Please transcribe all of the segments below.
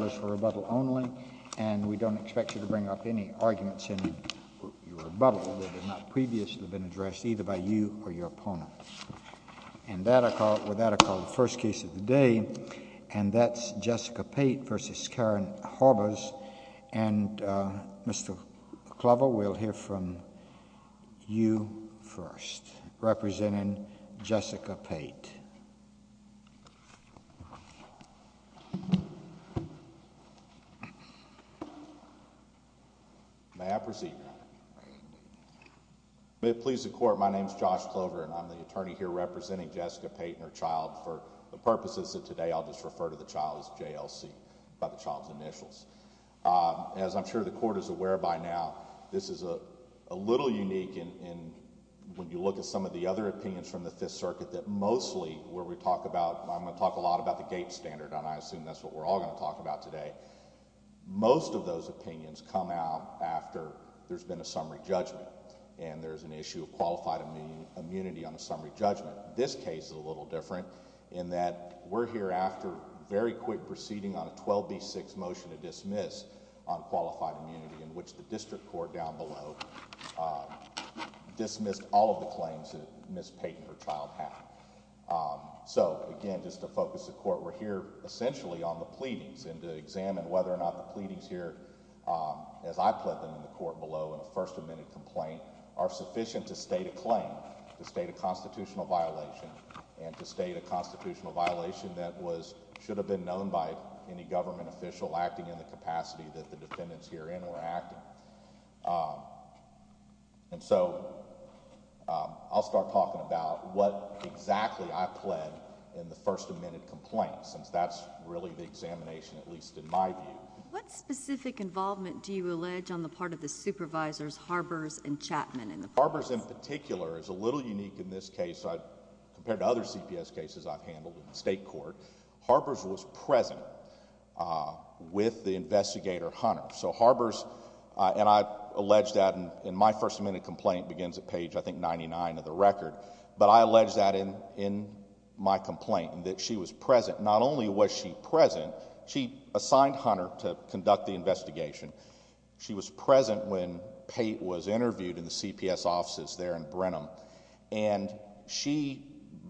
Mr. Glover, we'll hear from you first, representing Jessica Pate. May it please the Court, my name is Josh Glover, and I'm the attorney here representing Jessica Pate and her child for the purposes that today I'll just refer to the child as JLC, by the child's initials. As I'm sure the Court is aware by now, this is a little unique in when you look at some of the other opinions from the Fifth Circuit that mostly, where we talk about, I'm going to talk a lot about the Gates Standard, and I assume that's what we're all going to talk about today, most of those opinions come out after there's been a summary judgment and there's an issue of qualified immunity on a summary judgment. This case is a little different in that we're here after very quick proceeding on a 12B6 motion to dismiss on qualified immunity in which the district court down below dismissed all of the claims that Ms. Pate and her child have. So again, just to focus the Court, we're here essentially on the pleadings and to examine whether or not the pleadings here, as I've put them in the Court below in a first amendment complaint, are sufficient to state a claim, to state a constitutional violation, and to state a constitutional violation that should have been known by any government official acting in the capacity that the defendants herein were acting. And so, I'll start talking about what exactly I pled in the first amendment complaint since that's really the examination, at least in my view. What specific involvement do you allege on the part of the supervisors, Harbers and Chapman in the process? Harbers in particular is a little unique in this case, compared to other CPS cases I've handled in the state court, Harbers was present with the investigator Hunter. So Harbers, and I allege that in my first amendment complaint, begins at page I think 99 of the record, but I allege that in my complaint, that she was present. Not only was she present, she assigned Hunter to conduct the investigation. She was present when Pate was interviewed in the CPS offices there in Brenham. And she,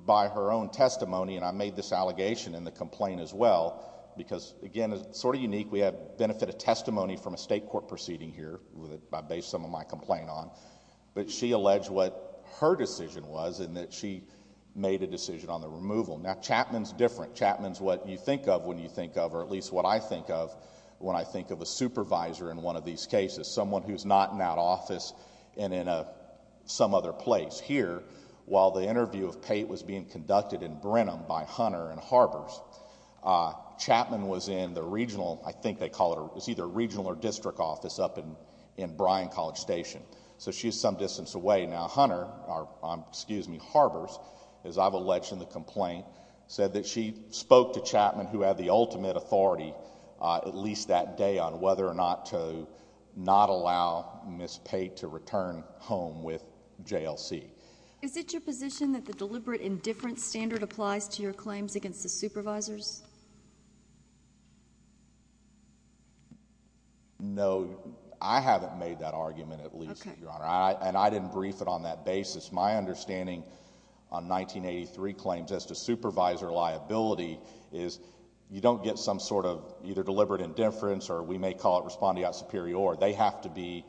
by her own testimony, and I made this allegation in the complaint as well, because again, it's sort of unique, we have the benefit of testimony from a state court proceeding here, based on some of my complaint on, but she alleged what her decision was in that she made a decision on the removal. Now Chapman's different, Chapman's what you think of when you think of, or at least what I think of, when I think of a supervisor in one of these cases. Someone who's not in that office and in some other place. But she was here while the interview of Pate was being conducted in Brenham by Hunter and Harbers. Chapman was in the regional, I think they call it, it was either regional or district office up in Bryan College Station. So she was some distance away. Now Hunter, or excuse me, Harbers, as I've alleged in the complaint, said that she spoke to Chapman, who had the ultimate authority, at least that day, on whether or not to not allow Ms. Pate to return home with JLC. Is it your position that the deliberate indifference standard applies to your claims against the supervisors? No, I haven't made that argument at least, Your Honor. And I didn't brief it on that basis. My understanding on 1983 claims as to supervisor liability is you don't get some sort of either deliberate indifference or we may call it respondeat superior. They have to be,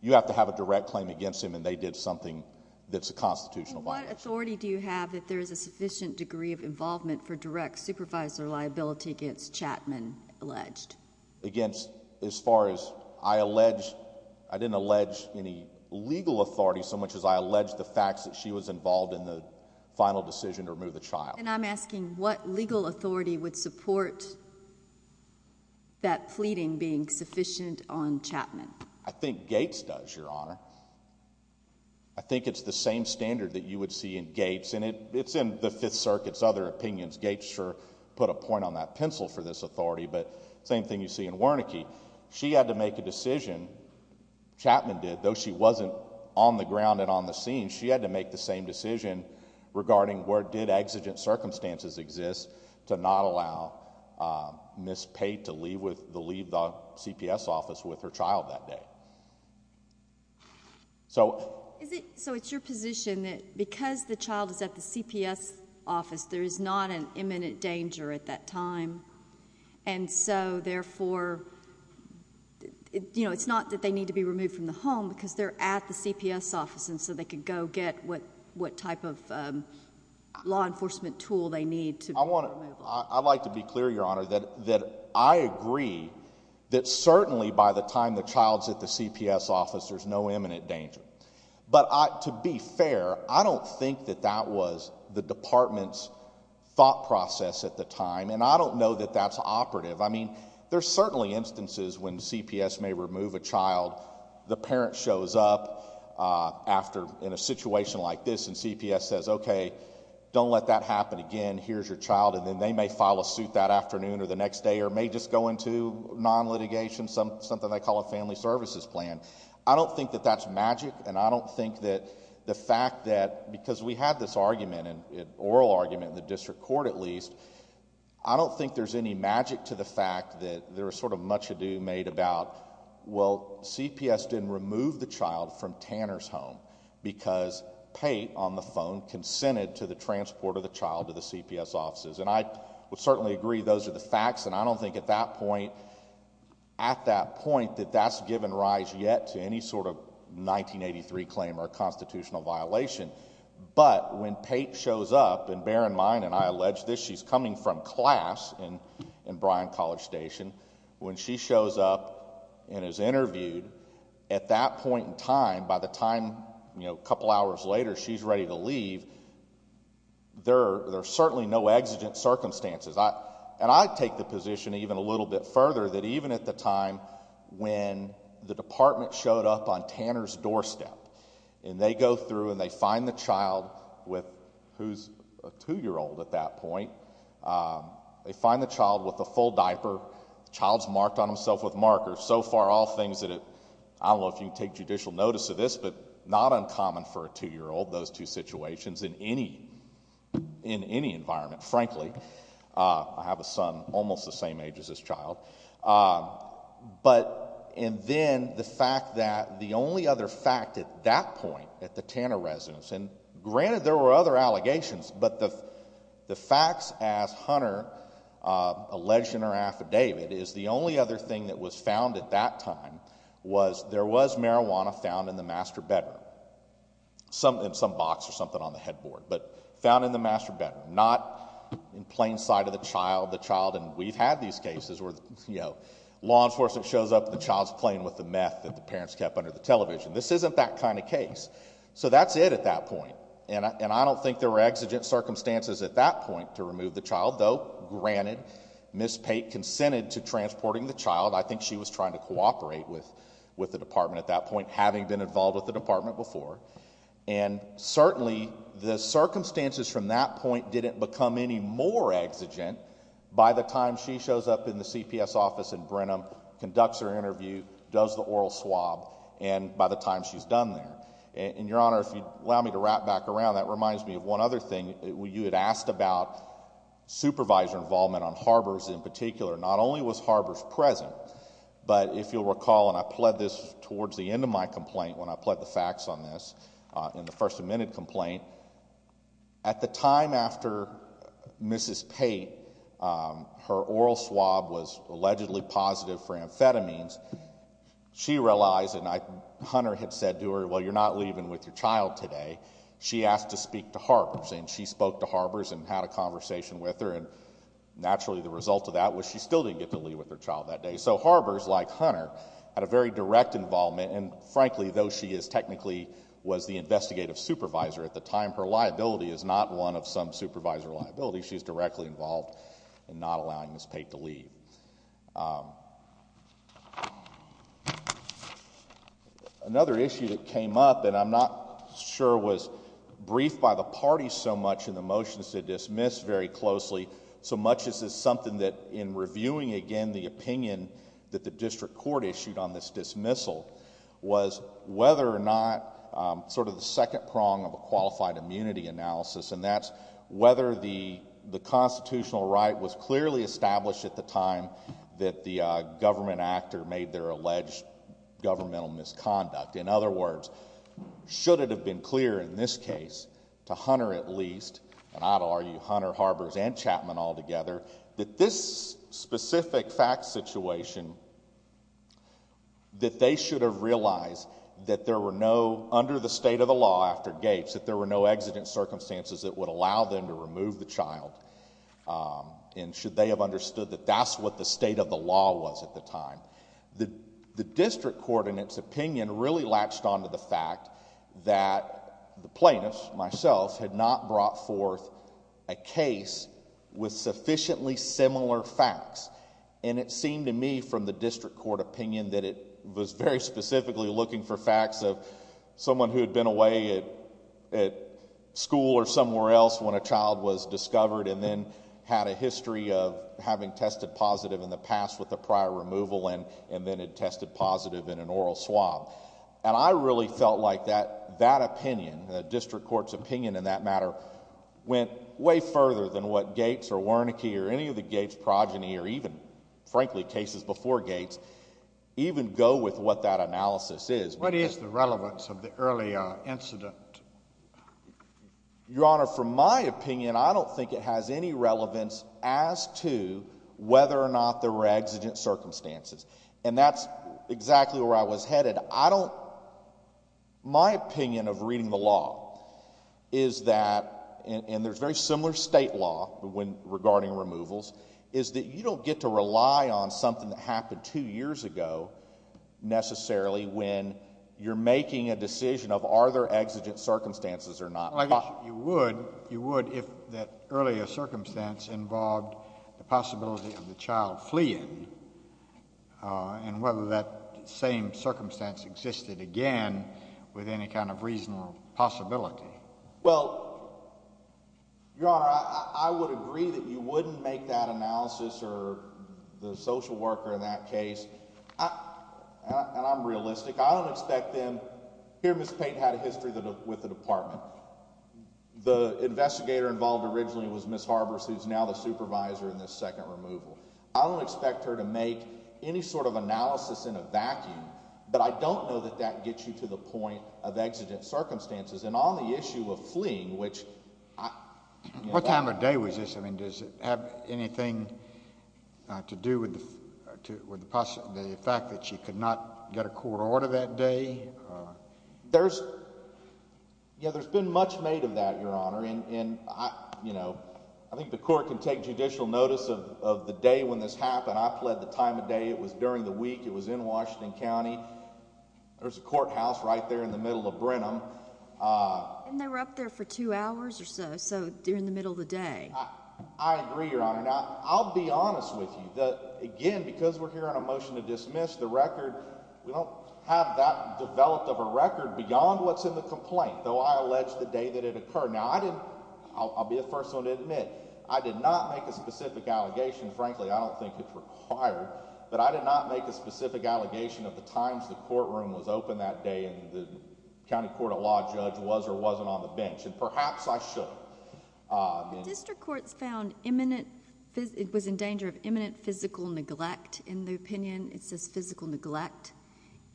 you have to have a direct claim against him and they did something that's a constitutional violation. And what authority do you have that there is a sufficient degree of involvement for direct supervisor liability against Chapman alleged? Against as far as I allege, I didn't allege any legal authority so much as I allege the facts that she was involved in the final decision to remove the child. And I'm asking what legal authority would support that pleading being sufficient on Chapman? I think Gates does, Your Honor. I think it's the same standard that you would see in Gates and it's in the Fifth Circuit's other opinions. Gates sure put a point on that pencil for this authority, but same thing you see in Wernicke. She had to make a decision, Chapman did, though she wasn't on the ground and on the scene, she had to make the same decision regarding where did exigent circumstances exist to not allow Ms. Pate to leave the CPS office with her child that day. So it's your position that because the child is at the CPS office, there is not an imminent danger at that time. And so therefore, it's not that they need to be removed from the home because they're at the CPS office and so they could go get what type of law enforcement tool they need to remove them. I'd like to be clear, Your Honor, that I agree that certainly by the time the child's at the CPS office, there's no imminent danger. But to be fair, I don't think that that was the department's thought process at the time and I don't know that that's operative. I mean, there's certainly instances when CPS may remove a child, the parent shows up after in a situation like this and CPS says, okay, don't let that happen again, here's your child, and then they may file a suit that afternoon or the next day or may just go into non-litigation, something they call a family services plan. I don't think that that's magic and I don't think that the fact that because we had this argument, an oral argument in the district court at least, I don't think there's any fact that there was sort of much ado made about, well, CPS didn't remove the child from Tanner's home because Pate, on the phone, consented to the transport of the child to the CPS offices. And I would certainly agree those are the facts and I don't think at that point, at that point that that's given rise yet to any sort of 1983 claim or constitutional violation. But when Pate shows up, and bear in mind and I allege this, she's coming from class in Bryan College Station, when she shows up and is interviewed, at that point in time, by the time, you know, a couple hours later, she's ready to leave, there are certainly no exigent circumstances. And I take the position even a little bit further that even at the time when the department showed up on Tanner's doorstep and they go through and they find the child with who's a two-year-old at that point, they find the child with a full diaper, the child's marked on himself with markers. So far, all things that, I don't know if you can take judicial notice of this, but not uncommon for a two-year-old, those two situations in any, in any environment, frankly. I have a son almost the same age as this child. But and then the fact that the only other fact at that point at the Tanner residence, and granted there were other allegations, but the facts as Hunter alleged in her affidavit is the only other thing that was found at that time was there was marijuana found in the master bedroom. Some box or something on the headboard, but found in the master bedroom, not in plain sight of the child, the child, and we've had these cases where, you know, law enforcement shows up and the child's playing with the meth that the parents kept under the television. This isn't that kind of case. So that's it at that point, and I don't think there were exigent circumstances at that point to remove the child, though granted, Ms. Pate consented to transporting the child. I think she was trying to cooperate with the department at that point, having been involved with the department before. And certainly the circumstances from that point didn't become any more exigent by the time she shows up in the CPS office in Brenham, conducts her interview, does the oral swab, and by the time she's done there. And, Your Honor, if you'd allow me to wrap back around, that reminds me of one other thing. You had asked about supervisor involvement on Harbors in particular. Not only was Harbors present, but if you'll recall, and I pled this towards the end of my complaint when I pled the facts on this in the first amendment complaint, at the time after Mrs. Pate, her oral swab was allegedly positive for amphetamines, she realized, and Hunter had said to her, well, you're not leaving with your child today. She asked to speak to Harbors, and she spoke to Harbors and had a conversation with her, and naturally the result of that was she still didn't get to leave with her child that day. So Harbors, like Hunter, had a very direct involvement, and frankly, though she is technically was the investigative supervisor at the time, her liability is not one of some supervisor liability. She's directly involved in not allowing Mrs. Pate to leave. Another issue that came up, and I'm not sure was briefed by the party so much in the motions to dismiss very closely, so much as it's something that in reviewing, again, the opinion that the district court issued on this dismissal was whether or not sort of the second prong of a qualified immunity analysis, and that's whether the constitutional right was clearly established at the time that the government actor made their alleged governmental misconduct. In other words, should it have been clear in this case to Hunter at least, and I'd argue Hunter, Harbors, and Chapman altogether, that this specific fact situation, that they should have realized that there were no, under the state of the law after Gates, that there were no exigent circumstances that would allow them to remove the child, and should they have understood that that's what the state of the law was at the time. The district court in its opinion really latched onto the fact that the plaintiffs, myself, had not brought forth a case with sufficiently similar facts. It seemed to me from the district court opinion that it was very specifically looking for facts of someone who had been away at school or somewhere else when a child was discovered and then had a history of having tested positive in the past with the prior removal and then had tested positive in an oral swab. And I really felt like that opinion, the district court's opinion in that matter, went way further than what Gates or Wernicke or any of the Gates progeny or even, frankly, cases before Gates even go with what that analysis is. What is the relevance of the early incident? Your Honor, from my opinion, I don't think it has any relevance as to whether or not there were exigent circumstances. And that's exactly where I was headed. I don't, my opinion of reading the law is that, and there's very similar state law regarding removals, is that you don't get to rely on something that happened two years ago necessarily when you're making a decision of are there exigent circumstances or not. Well, I guess you would, you would if that earlier circumstance involved the possibility of the child fleeing and whether that same circumstance existed again with any kind of reasonable possibility. Well, Your Honor, I would agree that you wouldn't make that analysis or the social worker in that case. And I'm realistic. I don't expect them, here Ms. Pate had a history with the department. The investigator involved originally was Ms. Harbers, who's now the supervisor in this second removal. I don't expect her to make any sort of analysis in a vacuum, but I don't know that that gets you to the point of exigent circumstances. And on the issue of fleeing, which I... What time of day was this? I mean, does it have anything to do with the fact that she could not get a court order that day? There's, yeah, there's been much made of that, Your Honor, and, you know, I think the court can take judicial notice of the day when this happened. I pled the time of day. It was during the week. It was in Washington County. There's a courthouse right there in the middle of Brenham. And they were up there for two hours or so, so during the middle of the day. I agree, Your Honor. Now, I'll be honest with you, again, because we're hearing a motion to dismiss the record, we don't have that developed of a record beyond what's in the complaint, though I allege the day that it occurred. Now, I didn't... I'll be the first one to admit, I did not make a specific allegation, frankly, I don't think it's required, but I did not make a specific allegation of the times the courtroom was open that day and the county court of law judge was or wasn't on the bench, and perhaps I should. The district court's found imminent... It was in danger of imminent physical neglect. In the opinion, it says physical neglect.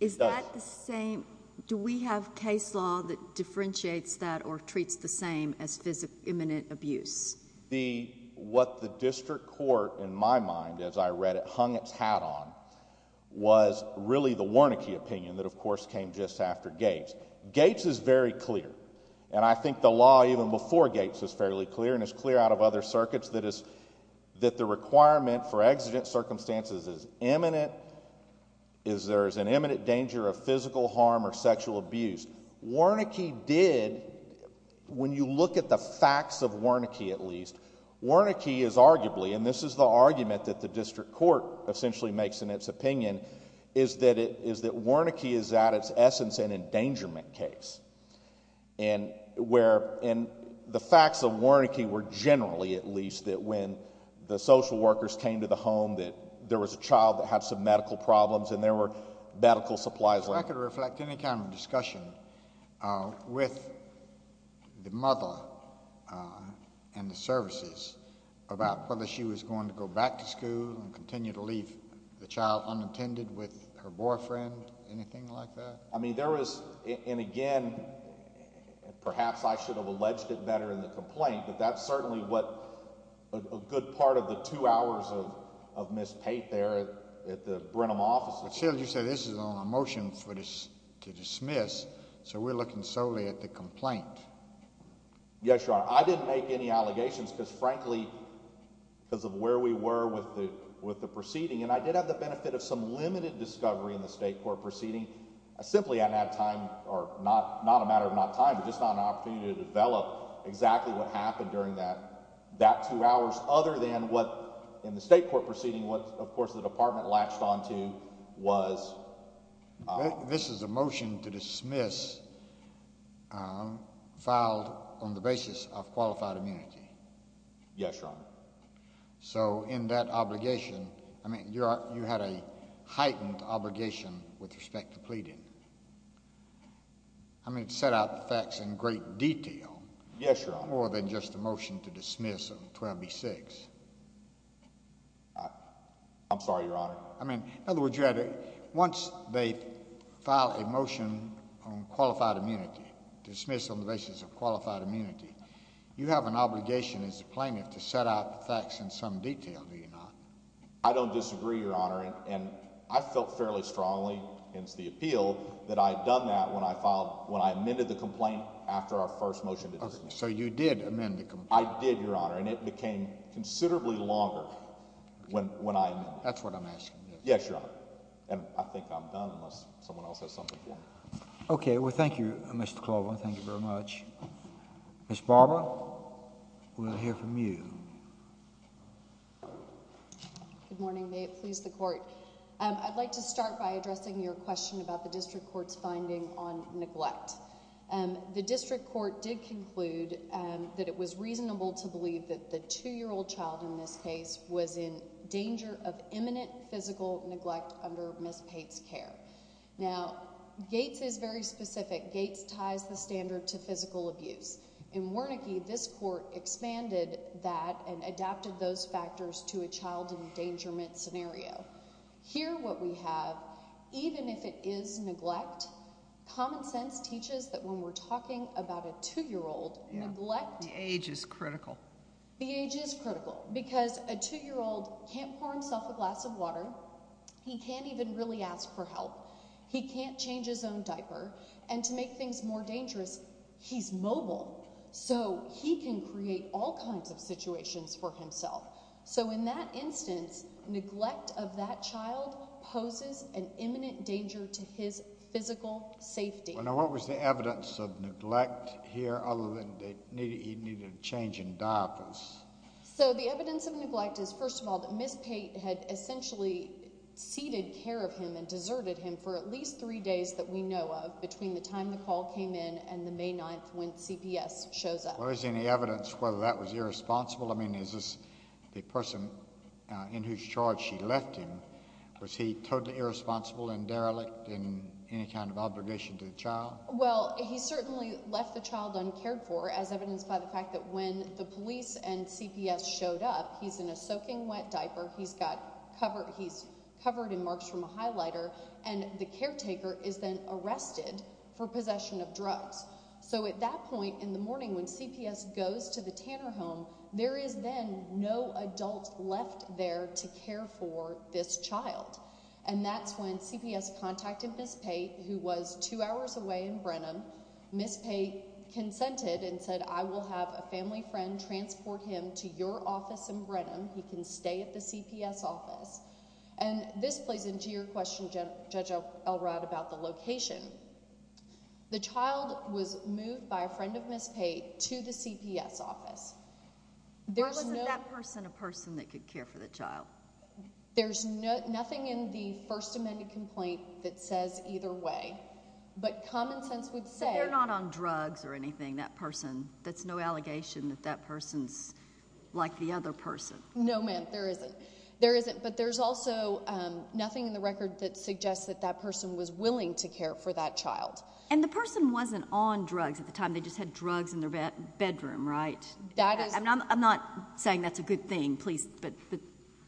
Is that the same? Do we have case law that differentiates that or treats the same as imminent abuse? What the district court, in my mind, as I read it, hung its hat on was really the Warnakey opinion that, of course, came just after Gates. Gates is very clear, and I think the law even before Gates was fairly clear, and it's clear out of other circuits that the requirement for exigent circumstances is imminent, there's an imminent danger of physical harm or sexual abuse. Warnakey did... When you look at the facts of Warnakey, at least, Warnakey is arguably, and this is the argument that the district court essentially makes in its opinion, is that Warnakey is at its essence an endangerment case. The facts of Warnakey were generally, at least, that when the social workers came to the home that there was a child that had some medical problems, and there were medical supplies left. If I could reflect any kind of discussion with the mother and the services about whether she was going to go back to school and continue to leave the child unattended with her boyfriend, anything like that? I mean, there was, and again, perhaps I should have alleged it better in the complaint, but that's certainly what a good part of the two hours of Ms. Pate there at the Brenham office was. But, Sheldon, you said this is on a motion to dismiss, so we're looking solely at the complaint. Yes, Your Honor. I didn't make any allegations because, frankly, because of where we were with the proceeding, and I did have the benefit of some limited discovery in the state court proceeding. Simply I didn't have time, or not a matter of not time, but just not an opportunity to that two hours other than what, in the state court proceeding, what, of course, the department latched onto was. This is a motion to dismiss, filed on the basis of qualified immunity. Yes, Your Honor. So in that obligation, I mean, you had a heightened obligation with respect to pleading. I mean, it set out the facts in great detail. Yes, Your Honor. And that's more than just a motion to dismiss on 12b-6. I'm sorry, Your Honor. I mean, in other words, you had a, once they file a motion on qualified immunity, dismiss on the basis of qualified immunity, you have an obligation as a plaintiff to set out the facts in some detail, do you not? I don't disagree, Your Honor, and I felt fairly strongly, hence the appeal, that I had done that when I filed, when I amended the complaint after our first motion to dismiss. Okay. So you did amend the complaint? I did, Your Honor, and it became considerably longer when I amended it. That's what I'm asking. Yes, Your Honor. And I think I'm done unless someone else has something for me. Okay. Well, thank you, Mr. Klobuchar. Thank you very much. Ms. Barber, we'll hear from you. Good morning. May it please the Court. I'd like to start by addressing your question about the district court's finding on neglect. The district court did conclude that it was reasonable to believe that the two-year-old child in this case was in danger of imminent physical neglect under Ms. Pate's care. Now, Gates is very specific. Gates ties the standard to physical abuse. In Wernicke, this court expanded that and adapted those factors to a child endangerment scenario. Here, what we have, even if it is neglect, common sense teaches that when we're talking about a two-year-old, neglect— The age is critical. The age is critical because a two-year-old can't pour himself a glass of water. He can't even really ask for help. He can't change his own diaper. And to make things more dangerous, he's mobile, so he can create all kinds of situations for himself. So in that instance, neglect of that child poses an imminent danger to his physical safety. Now, what was the evidence of neglect here, other than that he needed a change in diapers? So the evidence of neglect is, first of all, that Ms. Pate had essentially ceded care of him and deserted him for at least three days that we know of, between the time the call came in and the May 9th, when CPS shows up. Was there any evidence whether that was irresponsible? I mean, is this the person in whose charge she left him, was he totally irresponsible and derelict in any kind of obligation to the child? Well, he certainly left the child uncared for, as evidenced by the fact that when the police and CPS showed up, he's in a soaking wet diaper, he's got—he's covered in marks from a highlighter, and the caretaker is then arrested for possession of drugs. So at that point in the morning when CPS goes to the Tanner home, there is then no adult left there to care for this child. And that's when CPS contacted Ms. Pate, who was two hours away in Brenham. Ms. Pate consented and said, I will have a family friend transport him to your office in Brenham. He can stay at the CPS office. And this plays into your question, Judge Elrod, about the location. The child was moved by a friend of Ms. Pate to the CPS office. Or was it that person a person that could care for the child? There's nothing in the First Amendment complaint that says either way. But common sense would say— But they're not on drugs or anything, that person. That's no allegation that that person's like the other person. No, ma'am, there isn't. There isn't. But there's also nothing in the record that suggests that that person was willing to care for that child. And the person wasn't on drugs at the time. They just had drugs in their bedroom, right? That is— I'm not saying that's a good thing, please. But,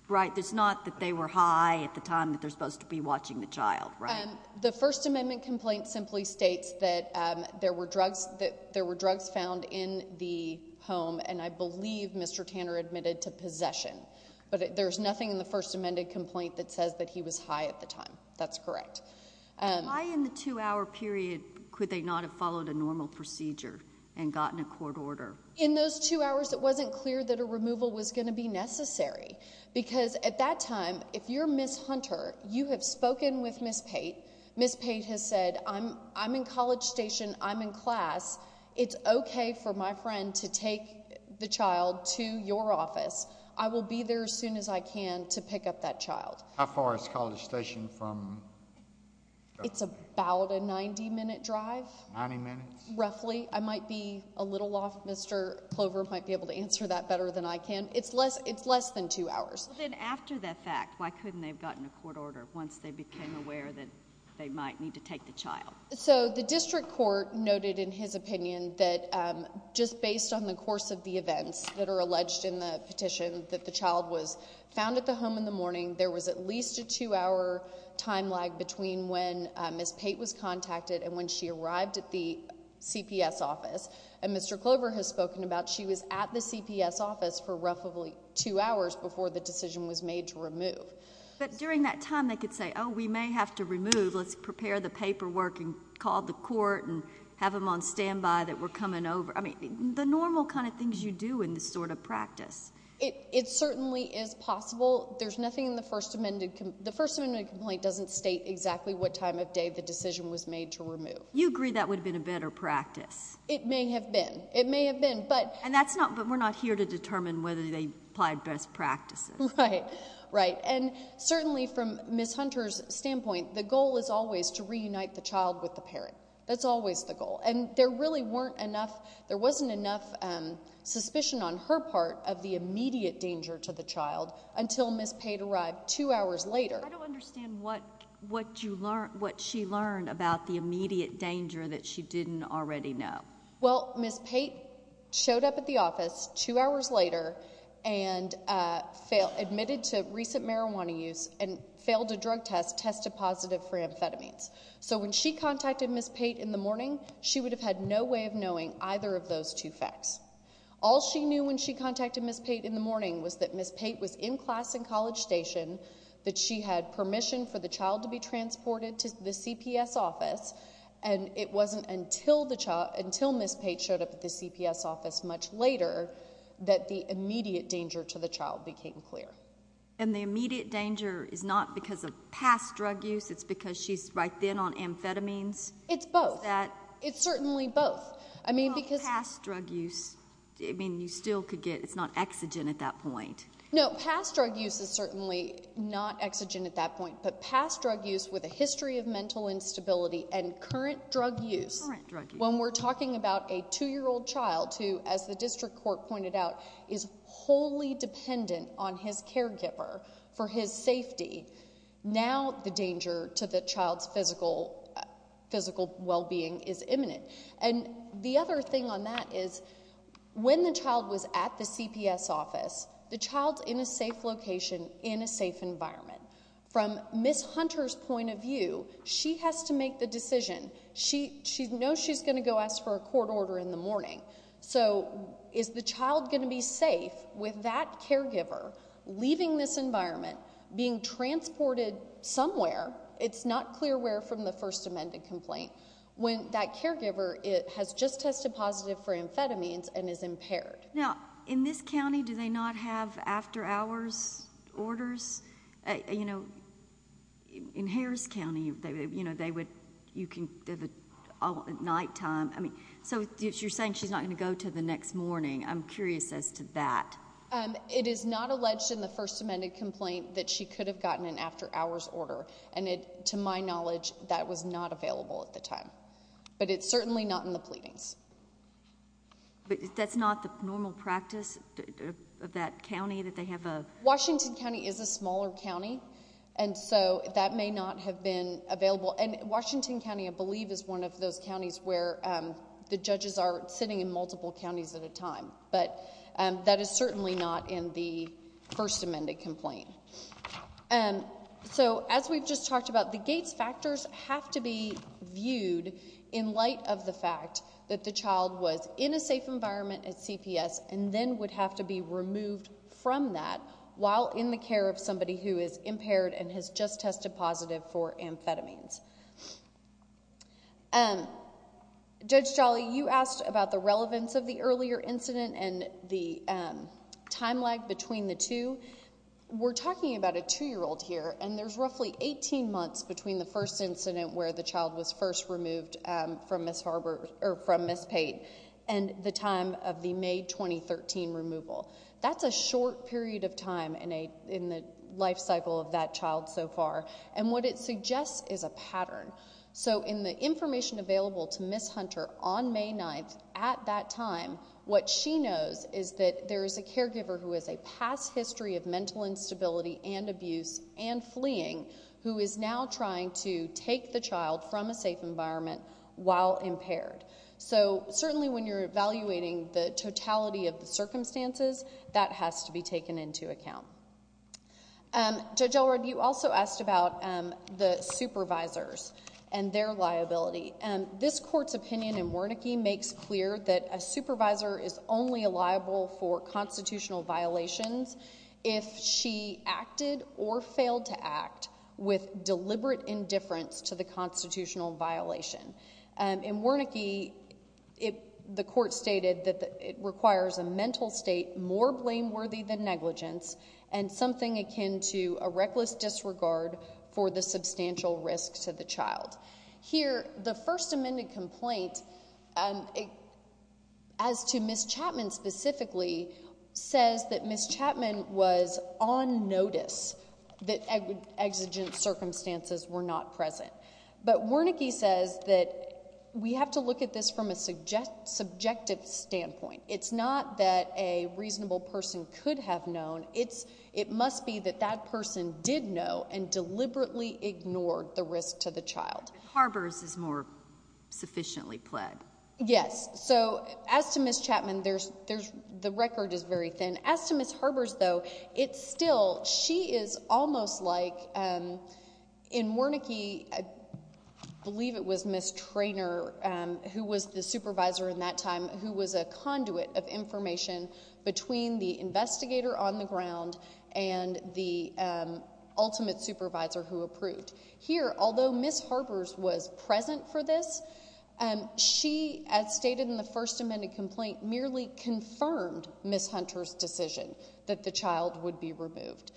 right, it's not that they were high at the time that they're supposed to be watching the child, right? The First Amendment complaint simply states that there were drugs found in the home, and I believe Mr. Tanner admitted to possession. But there's nothing in the First Amendment complaint that says that he was high at the time. That's correct. Why in the two-hour period could they not have followed a normal procedure and gotten a court order? In those two hours, it wasn't clear that a removal was going to be necessary, because at that time, if you're Ms. Hunter, you have spoken with Ms. Pate. Ms. Pate has said, I'm in College Station. I'm in class. It's OK for my friend to take the child to your office. I will be there as soon as I can to pick up that child. How far is College Station from? It's about a 90-minute drive. Ninety minutes? Roughly. I might be a little off. Mr. Clover might be able to answer that better than I can. It's less than two hours. Then after that fact, why couldn't they have gotten a court order once they became aware that they might need to take the child? So the district court noted in his opinion that just based on the course of the events that are alleged in the petition that the child was found at the home in the morning, there was at least a two-hour time lag between when Ms. Pate was contacted and when she arrived at the CPS office. And Mr. Clover has spoken about she was at the CPS office for roughly two hours before the decision was made to remove. But during that time, they could say, oh, we may have to remove. Let's prepare the paperwork and call the court and have them on standby that we're coming over. I mean, the normal kind of things you do in this sort of practice. It certainly is possible. There's nothing in the First Amendment. The First Amendment complaint doesn't state exactly what time of day the decision was made to remove. You agree that would have been a better practice. It may have been. It may have been. And that's not, but we're not here to determine whether they applied best practices. Right, right. And certainly from Ms. Hunter's standpoint, the goal is always to reunite the child with the parent. That's always the goal. And there really weren't enough, there wasn't enough suspicion on her part of the case. Until Ms. Pate arrived two hours later. I don't understand what she learned about the immediate danger that she didn't already know. Well, Ms. Pate showed up at the office two hours later and admitted to recent marijuana use and failed a drug test, tested positive for amphetamines. So when she contacted Ms. Pate in the morning, she would have had no way of knowing either of those two facts. All she knew when she contacted Ms. Pate in the morning was that Ms. Pate was in class and college station, that she had permission for the child to be transported to the CPS office, and it wasn't until Ms. Pate showed up at the CPS office much later that the immediate danger to the child became clear. And the immediate danger is not because of past drug use, it's because she's right then on amphetamines? It's both. It's that? It's certainly both. Well, past drug use, I mean, you still could get, it's not exogen at that point. No, past drug use is certainly not exogen at that point, but past drug use with a history of mental instability and current drug use, when we're talking about a two-year-old child who, as the district court pointed out, is wholly dependent on his caregiver for his safety, now the danger to the child's physical well-being is imminent. And the other thing on that is, when the child was at the CPS office, the child's in a safe location, in a safe environment. From Ms. Hunter's point of view, she has to make the decision. She knows she's going to go ask for a court order in the morning. So is the child going to be safe with that caregiver leaving this environment, being transported somewhere? It's not clear where from the First Amendment complaint. When that caregiver has just tested positive for amphetamines and is impaired. Now, in this county, do they not have after-hours orders? You know, in Harris County, they would, you can, at nighttime, I mean, so you're saying she's not going to go to the next morning. I'm curious as to that. It is not alleged in the First Amendment complaint that she could have gotten an after-hours order. And to my knowledge, that was not available at the time. But it's certainly not in the pleadings. But that's not the normal practice of that county, that they have a... Washington County is a smaller county, and so that may not have been available. And Washington County, I believe, is one of those counties where the judges are sitting in multiple counties at a time. But that is certainly not in the First Amendment complaint. So, as we've just talked about, the Gates factors have to be viewed in light of the fact that the child was in a safe environment at CPS and then would have to be removed from that while in the care of somebody who is impaired and has just tested positive for amphetamines. Judge Jolly, you asked about the relevance of the earlier incident and the time lag between the two. We're talking about a 2-year-old here, and there's roughly 18 months between the first incident where the child was first removed from Ms. Pate and the time of the May 2013 removal. That's a short period of time in the life cycle of that child so far. And what it suggests is a pattern. So, in the information available to Ms. Hunter on May 9th at that time, what she knows is that there is a caregiver who has a past history of mental instability and abuse and fleeing who is now trying to take the child from a safe environment while impaired. So, certainly when you're evaluating the totality of the circumstances, that has to be taken into account. Judge Elrod, you also asked about the supervisors and their liability. This court's opinion in Wernicke makes clear that a supervisor is only liable for constitutional violations if she acted or failed to act with deliberate indifference to the constitutional violation. In Wernicke, the court stated that it requires a mental state more blameworthy than negligence and something akin to a reckless disregard for the substantial risk to the child. Here, the First Amendment complaint, as to Ms. Chapman specifically, says that Ms. Chapman was on notice that exigent circumstances were not present. But Wernicke says that we have to look at this from a subjective standpoint. It's not that a reasonable person could have known. It must be that that person did know and deliberately ignored the risk to the child. But Harbers is more sufficiently pled. Yes. So, as to Ms. Chapman, the record is very thin. As to Ms. Harbers, though, it's still, she is almost like, in Wernicke, I believe it was Ms. Traynor, who was the supervisor in that time, who was a conduit of information between the investigator on the ground and the ultimate supervisor who approved. Here, although Ms. Harbers was present for this, she, as stated in the First Amendment complaint, merely confirmed Ms. Hunter's decision that the child would be removed.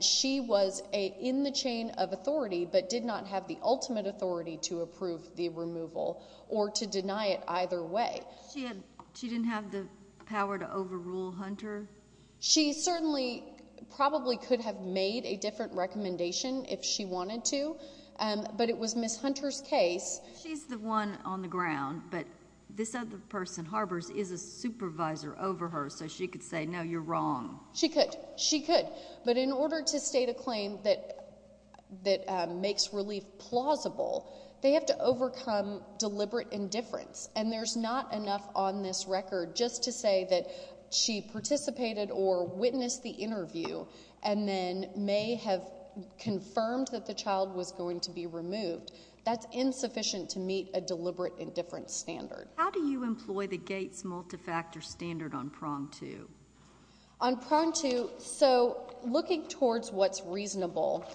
She was in the chain of authority but did not have the ultimate authority to approve the removal or to deny it either way. She didn't have the power to overrule Hunter? She certainly probably could have made a different recommendation if she wanted to, but it was Ms. Hunter's case. She's the one on the ground, but this other person, Harbers, is a supervisor over her, so she could say, no, you're wrong. She could. She could. But in order to state a claim that makes relief plausible, they have to overcome deliberate indifference, and there's not enough on this record just to say that she participated or witnessed the interview and then may have confirmed that the child was going to be removed. That's insufficient to meet a deliberate indifference standard. How do you employ the Gates multifactor standard on prong two? On prong two, so looking towards what's reasonable,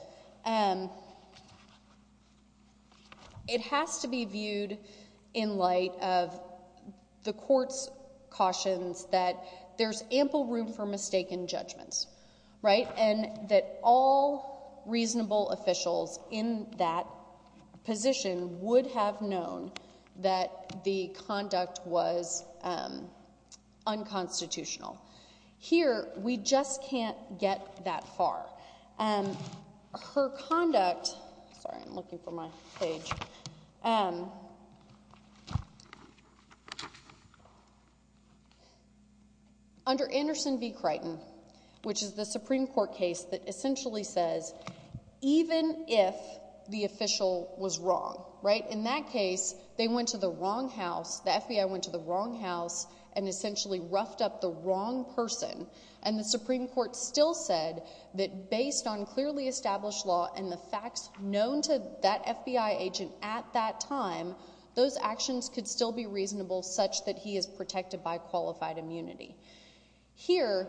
it has to be viewed in light of the court's cautions that there's ample room for mistaken judgments, right, and that all reasonable Here, we just can't get that far. Her conduct, sorry, I'm looking for my page. Under Anderson v. Crichton, which is the Supreme Court case that essentially says even if the official was wrong, right, in that case, they went to the wrong house, the FBI went to the wrong person, and the Supreme Court still said that based on clearly established law and the facts known to that FBI agent at that time, those actions could still be reasonable such that he is protected by qualified immunity. Here,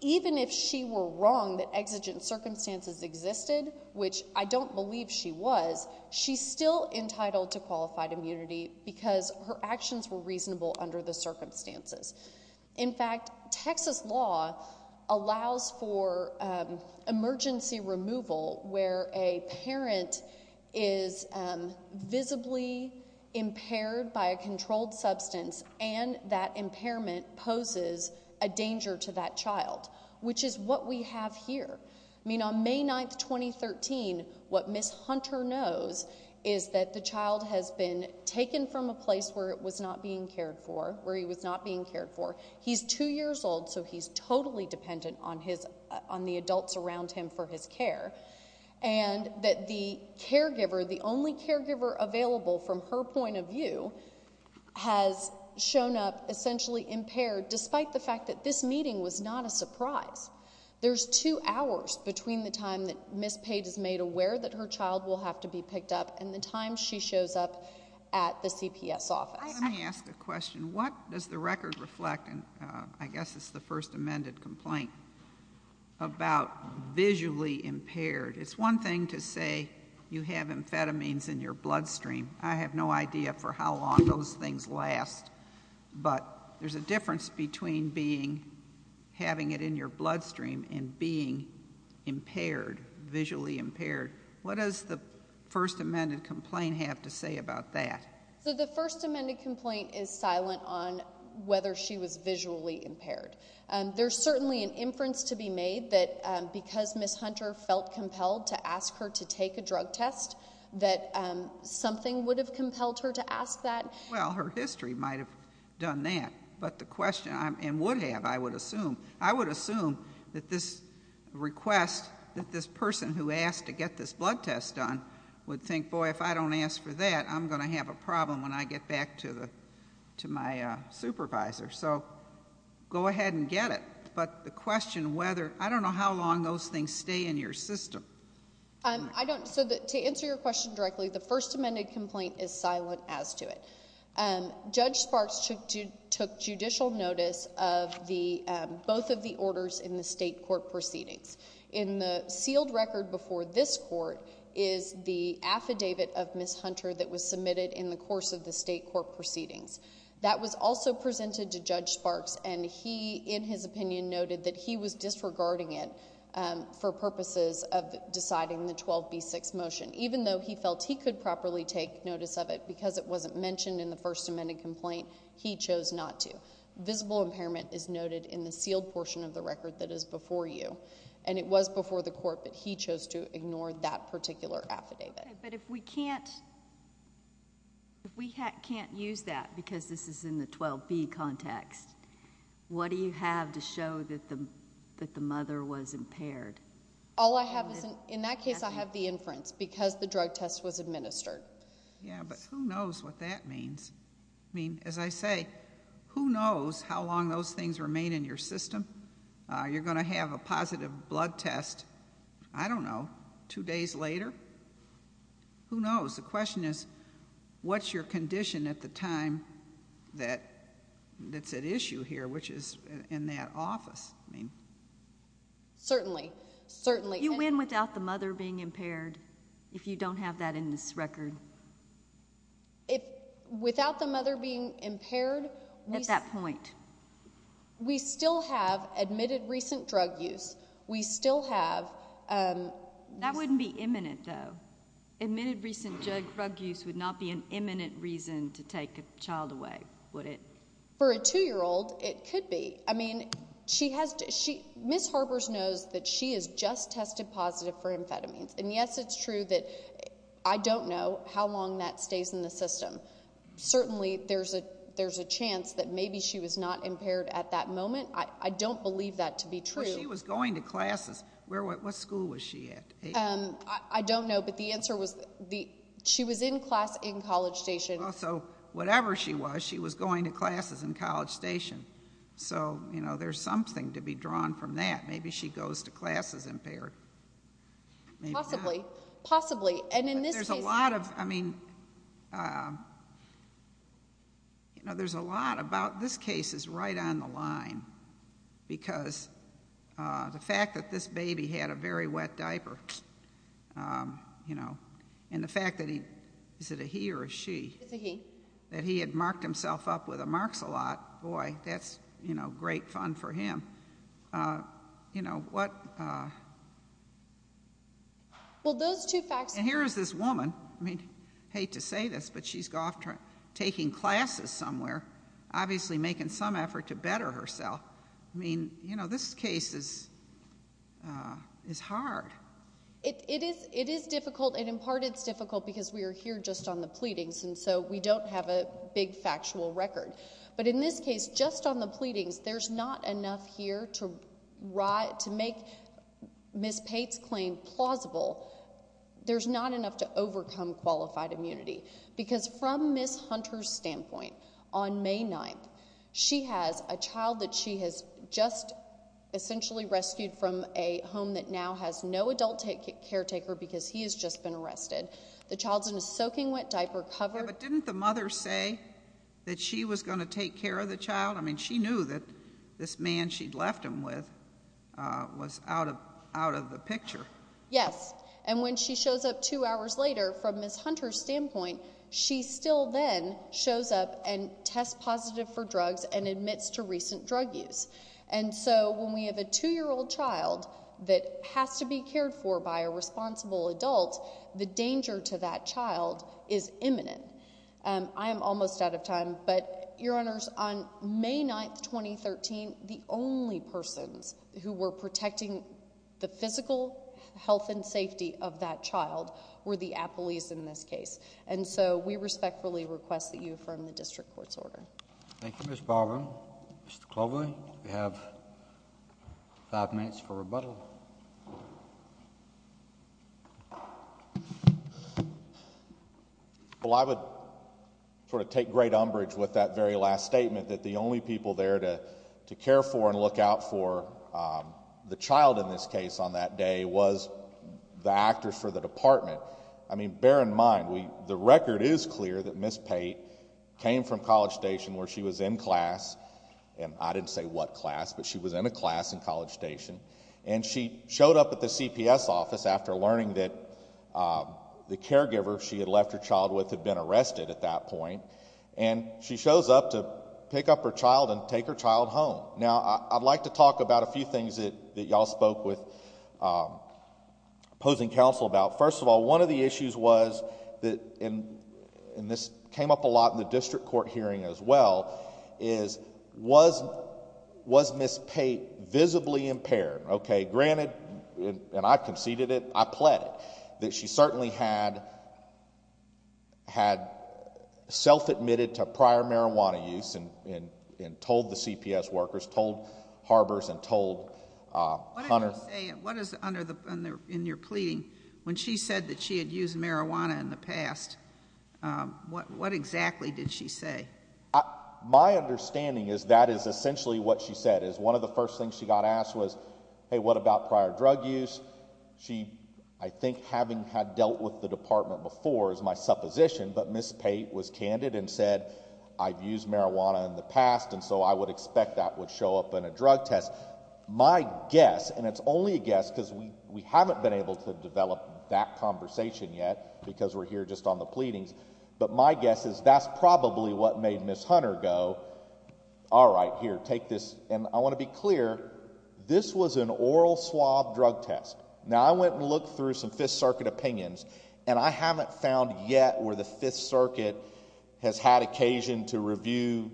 even if she were wrong that exigent circumstances existed, which I don't believe she was, she's still entitled to qualified immunity because her actions were reasonable under the circumstances. In fact, Texas law allows for emergency removal where a parent is visibly impaired by a controlled substance and that impairment poses a danger to that child, which is what we have here. I mean, on May 9, 2013, what Ms. Hunter knows is that the child has been taken from a place where it was not being cared for, where he was not being cared for. He's two years old, so he's totally dependent on the adults around him for his care, and that the caregiver, the only caregiver available from her point of view, has shown up essentially impaired despite the fact that this meeting was not a surprise. There's two hours between the time that Ms. Page is made aware that her child will have to be Let me ask a question. What does the record reflect, and I guess it's the first amended complaint, about visually impaired? It's one thing to say you have amphetamines in your bloodstream. I have no idea for how long those things last, but there's a difference between having it in your bloodstream and being impaired, visually impaired. What does the first amended complaint have to say about that? So the first amended complaint is silent on whether she was visually impaired. There's certainly an inference to be made that because Ms. Hunter felt compelled to ask her to take a drug test, that something would have compelled her to ask that. Well, her history might have done that, and would have, I would assume. I would assume that this request, that this person who asked to get this blood test done would think, boy, if I don't ask for that, I'm going to have a problem when I get back to my supervisor. So go ahead and get it. But the question whether, I don't know how long those things stay in your system. So to answer your question directly, the first amended complaint is silent as to it. Judge Sparks took judicial notice of both of the orders in the state court proceedings. In the sealed record before this court is the affidavit of Ms. Hunter that was submitted in the course of the state court proceedings. That was also presented to Judge Sparks, and he, in his opinion, noted that he was disregarding it for purposes of deciding the 12B6 motion, even though he felt he could properly take notice of it because it wasn't mentioned in the first amended complaint, he chose not to. So visible impairment is noted in the sealed portion of the record that is before you, and it was before the court, but he chose to ignore that particular affidavit. Okay, but if we can't use that because this is in the 12B context, what do you have to show that the mother was impaired? All I have is, in that case, I have the inference because the drug test was administered. Yeah, but who knows what that means. I mean, as I say, who knows how long those things remain in your system. You're going to have a positive blood test, I don't know, two days later. Who knows? The question is, what's your condition at the time that's at issue here, which is in that office? Certainly. You win without the mother being impaired if you don't have that in this record. Without the mother being impaired? At that point. We still have admitted recent drug use. We still have. That wouldn't be imminent, though. Admitted recent drug use would not be an imminent reason to take a child away, would it? For a 2-year-old, it could be. I mean, Ms. Harbers knows that she has just tested positive for amphetamines, and, yes, it's true that I don't know how long that stays in the system. Certainly there's a chance that maybe she was not impaired at that moment. I don't believe that to be true. She was going to classes. What school was she at? I don't know, but the answer was she was in class in College Station. So whatever she was, she was going to classes in College Station. So, you know, there's something to be drawn from that. Maybe she goes to classes impaired. Possibly. Possibly. And in this case. There's a lot of, I mean, you know, there's a lot about this case is right on the line because the fact that this baby had a very wet diaper, you know, and the fact that he, is it a he or a she? It's a he. That he had marked himself up with a marx-a-lot. Boy, that's, you know, great fun for him. You know, what. Well, those two facts. And here is this woman. I mean, I hate to say this, but she's off taking classes somewhere, obviously making some effort to better herself. I mean, you know, this case is hard. It is difficult, and in part it's difficult because we are here just on the pleadings, and so we don't have a big factual record. But in this case, just on the pleadings, there's not enough here to make Ms. Pate's claim plausible. There's not enough to overcome qualified immunity. Because from Ms. Hunter's standpoint, on May 9th, she has a child that she has just essentially rescued from a home that now has no adult caretaker because he has just been arrested. The child's in a soaking wet diaper cover. Yeah, but didn't the mother say that she was going to take care of the child? I mean, she knew that this man she'd left him with was out of the picture. Yes. And when she shows up two hours later, from Ms. Hunter's standpoint, she still then shows up and tests positive for drugs and admits to recent drug use. And so when we have a 2-year-old child that has to be cared for by a responsible adult, the danger to that child is imminent. I am almost out of time, but, Your Honors, on May 9th, 2013, the only persons who were protecting the physical health and safety of that child were the appellees in this case. And so we respectfully request that you affirm the district court's order. Thank you, Ms. Barber. Mr. Cloverley, you have five minutes for rebuttal. Well, I would sort of take great umbrage with that very last statement that the only people there to care for and look out for the child in this case on that day was the actors for the department. I mean, bear in mind, the record is clear that Ms. Pate came from College Station where she was in class. And I didn't say what class, but she was in a class in College Station. And she showed up at the CPS office after learning that the caregiver she had left her child with had been arrested at that point. And she shows up to pick up her child and take her child home. Now, I'd like to talk about a few things that y'all spoke with opposing counsel about. First of all, one of the issues was, and this came up a lot in the district court hearing as well, is was Ms. Pate visibly impaired? Okay, granted, and I conceded it, I pled it, that she certainly had self-admitted to prior marijuana use and told the CPS workers, told Harbers and told Hunter. What is under in your pleading, when she said that she had used marijuana in the past, what exactly did she say? My understanding is that is essentially what she said, is one of the first things she got asked was, hey, what about prior drug use? She, I think having had dealt with the department before is my supposition, but Ms. Pate was candid and said, I've used marijuana in the past, and so I would expect that would show up in a drug test. My guess, and it's only a guess because we haven't been able to develop that conversation yet because we're here just on the pleadings, but my guess is that's probably what made Ms. Hunter go, all right, here, take this. And I want to be clear, this was an oral swab drug test. Now, I went and looked through some Fifth Circuit opinions, and I haven't found yet where the Fifth Circuit has had occasion to review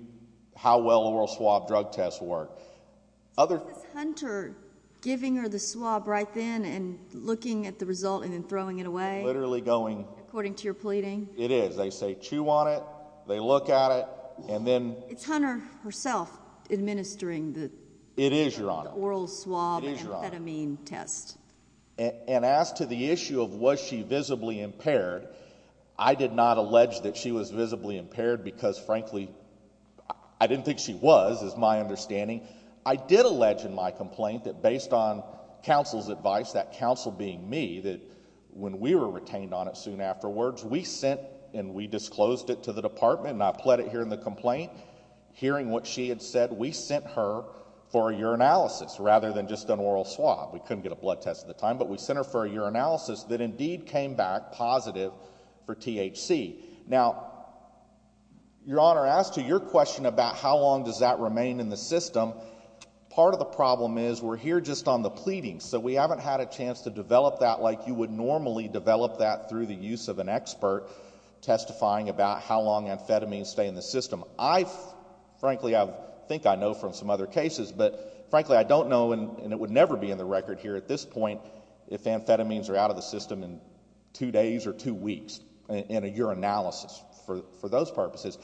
how well oral swab drug tests work. Was Hunter giving her the swab right then and looking at the result and then throwing it away? Literally going. According to your pleading? It is. They say chew on it, they look at it, and then. Is Hunter herself administering the oral swab amphetamine test? It is, Your Honor. And as to the issue of was she visibly impaired, I did not allege that she was visibly impaired because, frankly, I didn't think she was is my understanding. I did allege in my complaint that based on counsel's advice, that counsel being me, that when we were retained on it soon afterwards, we sent and we disclosed it to the department, and I pled it here in the complaint, hearing what she had said, we sent her for a urinalysis rather than just an oral swab. We couldn't get a blood test at the time, but we sent her for a urinalysis that indeed came back positive for THC. Now, Your Honor, as to your question about how long does that remain in the system, part of the problem is we're here just on the pleading, so we haven't had a chance to develop that like you would normally develop that through the use of an expert testifying about how long amphetamines stay in the system. Frankly, I think I know from some other cases, but, frankly, I don't know, and it would never be in the record here at this point, if amphetamines are out of the system in two days or two weeks in a urinalysis for those purposes.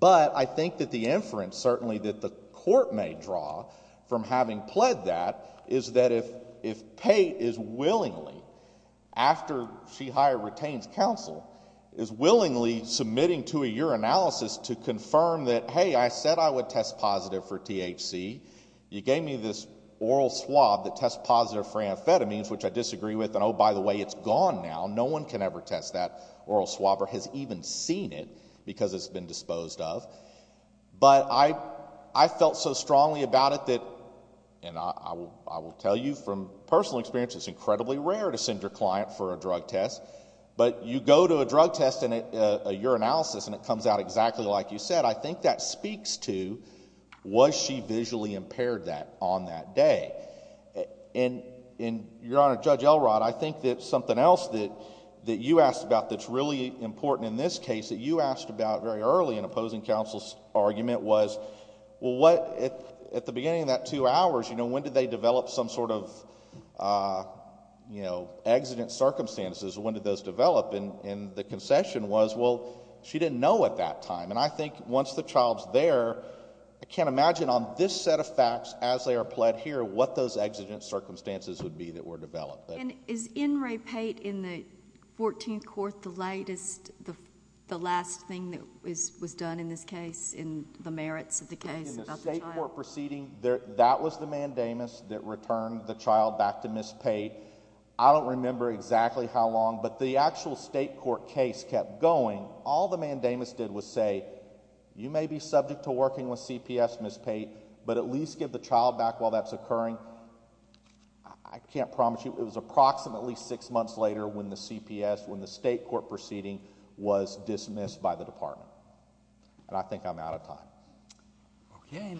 But I think that the inference certainly that the court may draw from having pled that is that if Pate is willingly, after she retains counsel, is willingly submitting to a urinalysis to confirm that, hey, I said I would test positive for THC. You gave me this oral swab that tests positive for amphetamines, which I disagree with, and, oh, by the way, it's gone now. No one can ever test that oral swab or has even seen it because it's been disposed of. But I felt so strongly about it that, and I will tell you from personal experience, it's incredibly rare to send your client for a drug test, but you go to a drug test in a urinalysis and it comes out exactly like you said. I think that speaks to was she visually impaired on that day. And, Your Honor, Judge Elrod, I think that something else that you asked about that's really important in this case that you asked about very early in opposing counsel's argument was, well, what, at the beginning of that two hours, you know, when did they develop some sort of, you know, exigent circumstances? When did those develop? And the concession was, well, she didn't know at that time. And I think once the child's there, I can't imagine on this set of facts as they are pled here what those exigent circumstances would be that were developed. And is N. Ray Pate in the 14th Court the latest, the last thing that was done in this case in the merits of the case about the child? In the state court proceeding, that was the mandamus that returned the child back to Ms. Pate. I don't remember exactly how long, but the actual state court case kept going. All the mandamus did was say, you may be subject to working with CPS, Ms. Pate, but at least give the child back while that's occurring. I can't promise you. It was approximately six months later when the CPS, when the state court proceeding was dismissed by the department. And I think I'm out of time. Okay.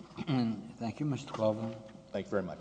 Thank you, Mr. Klobuchar. Thank you very much.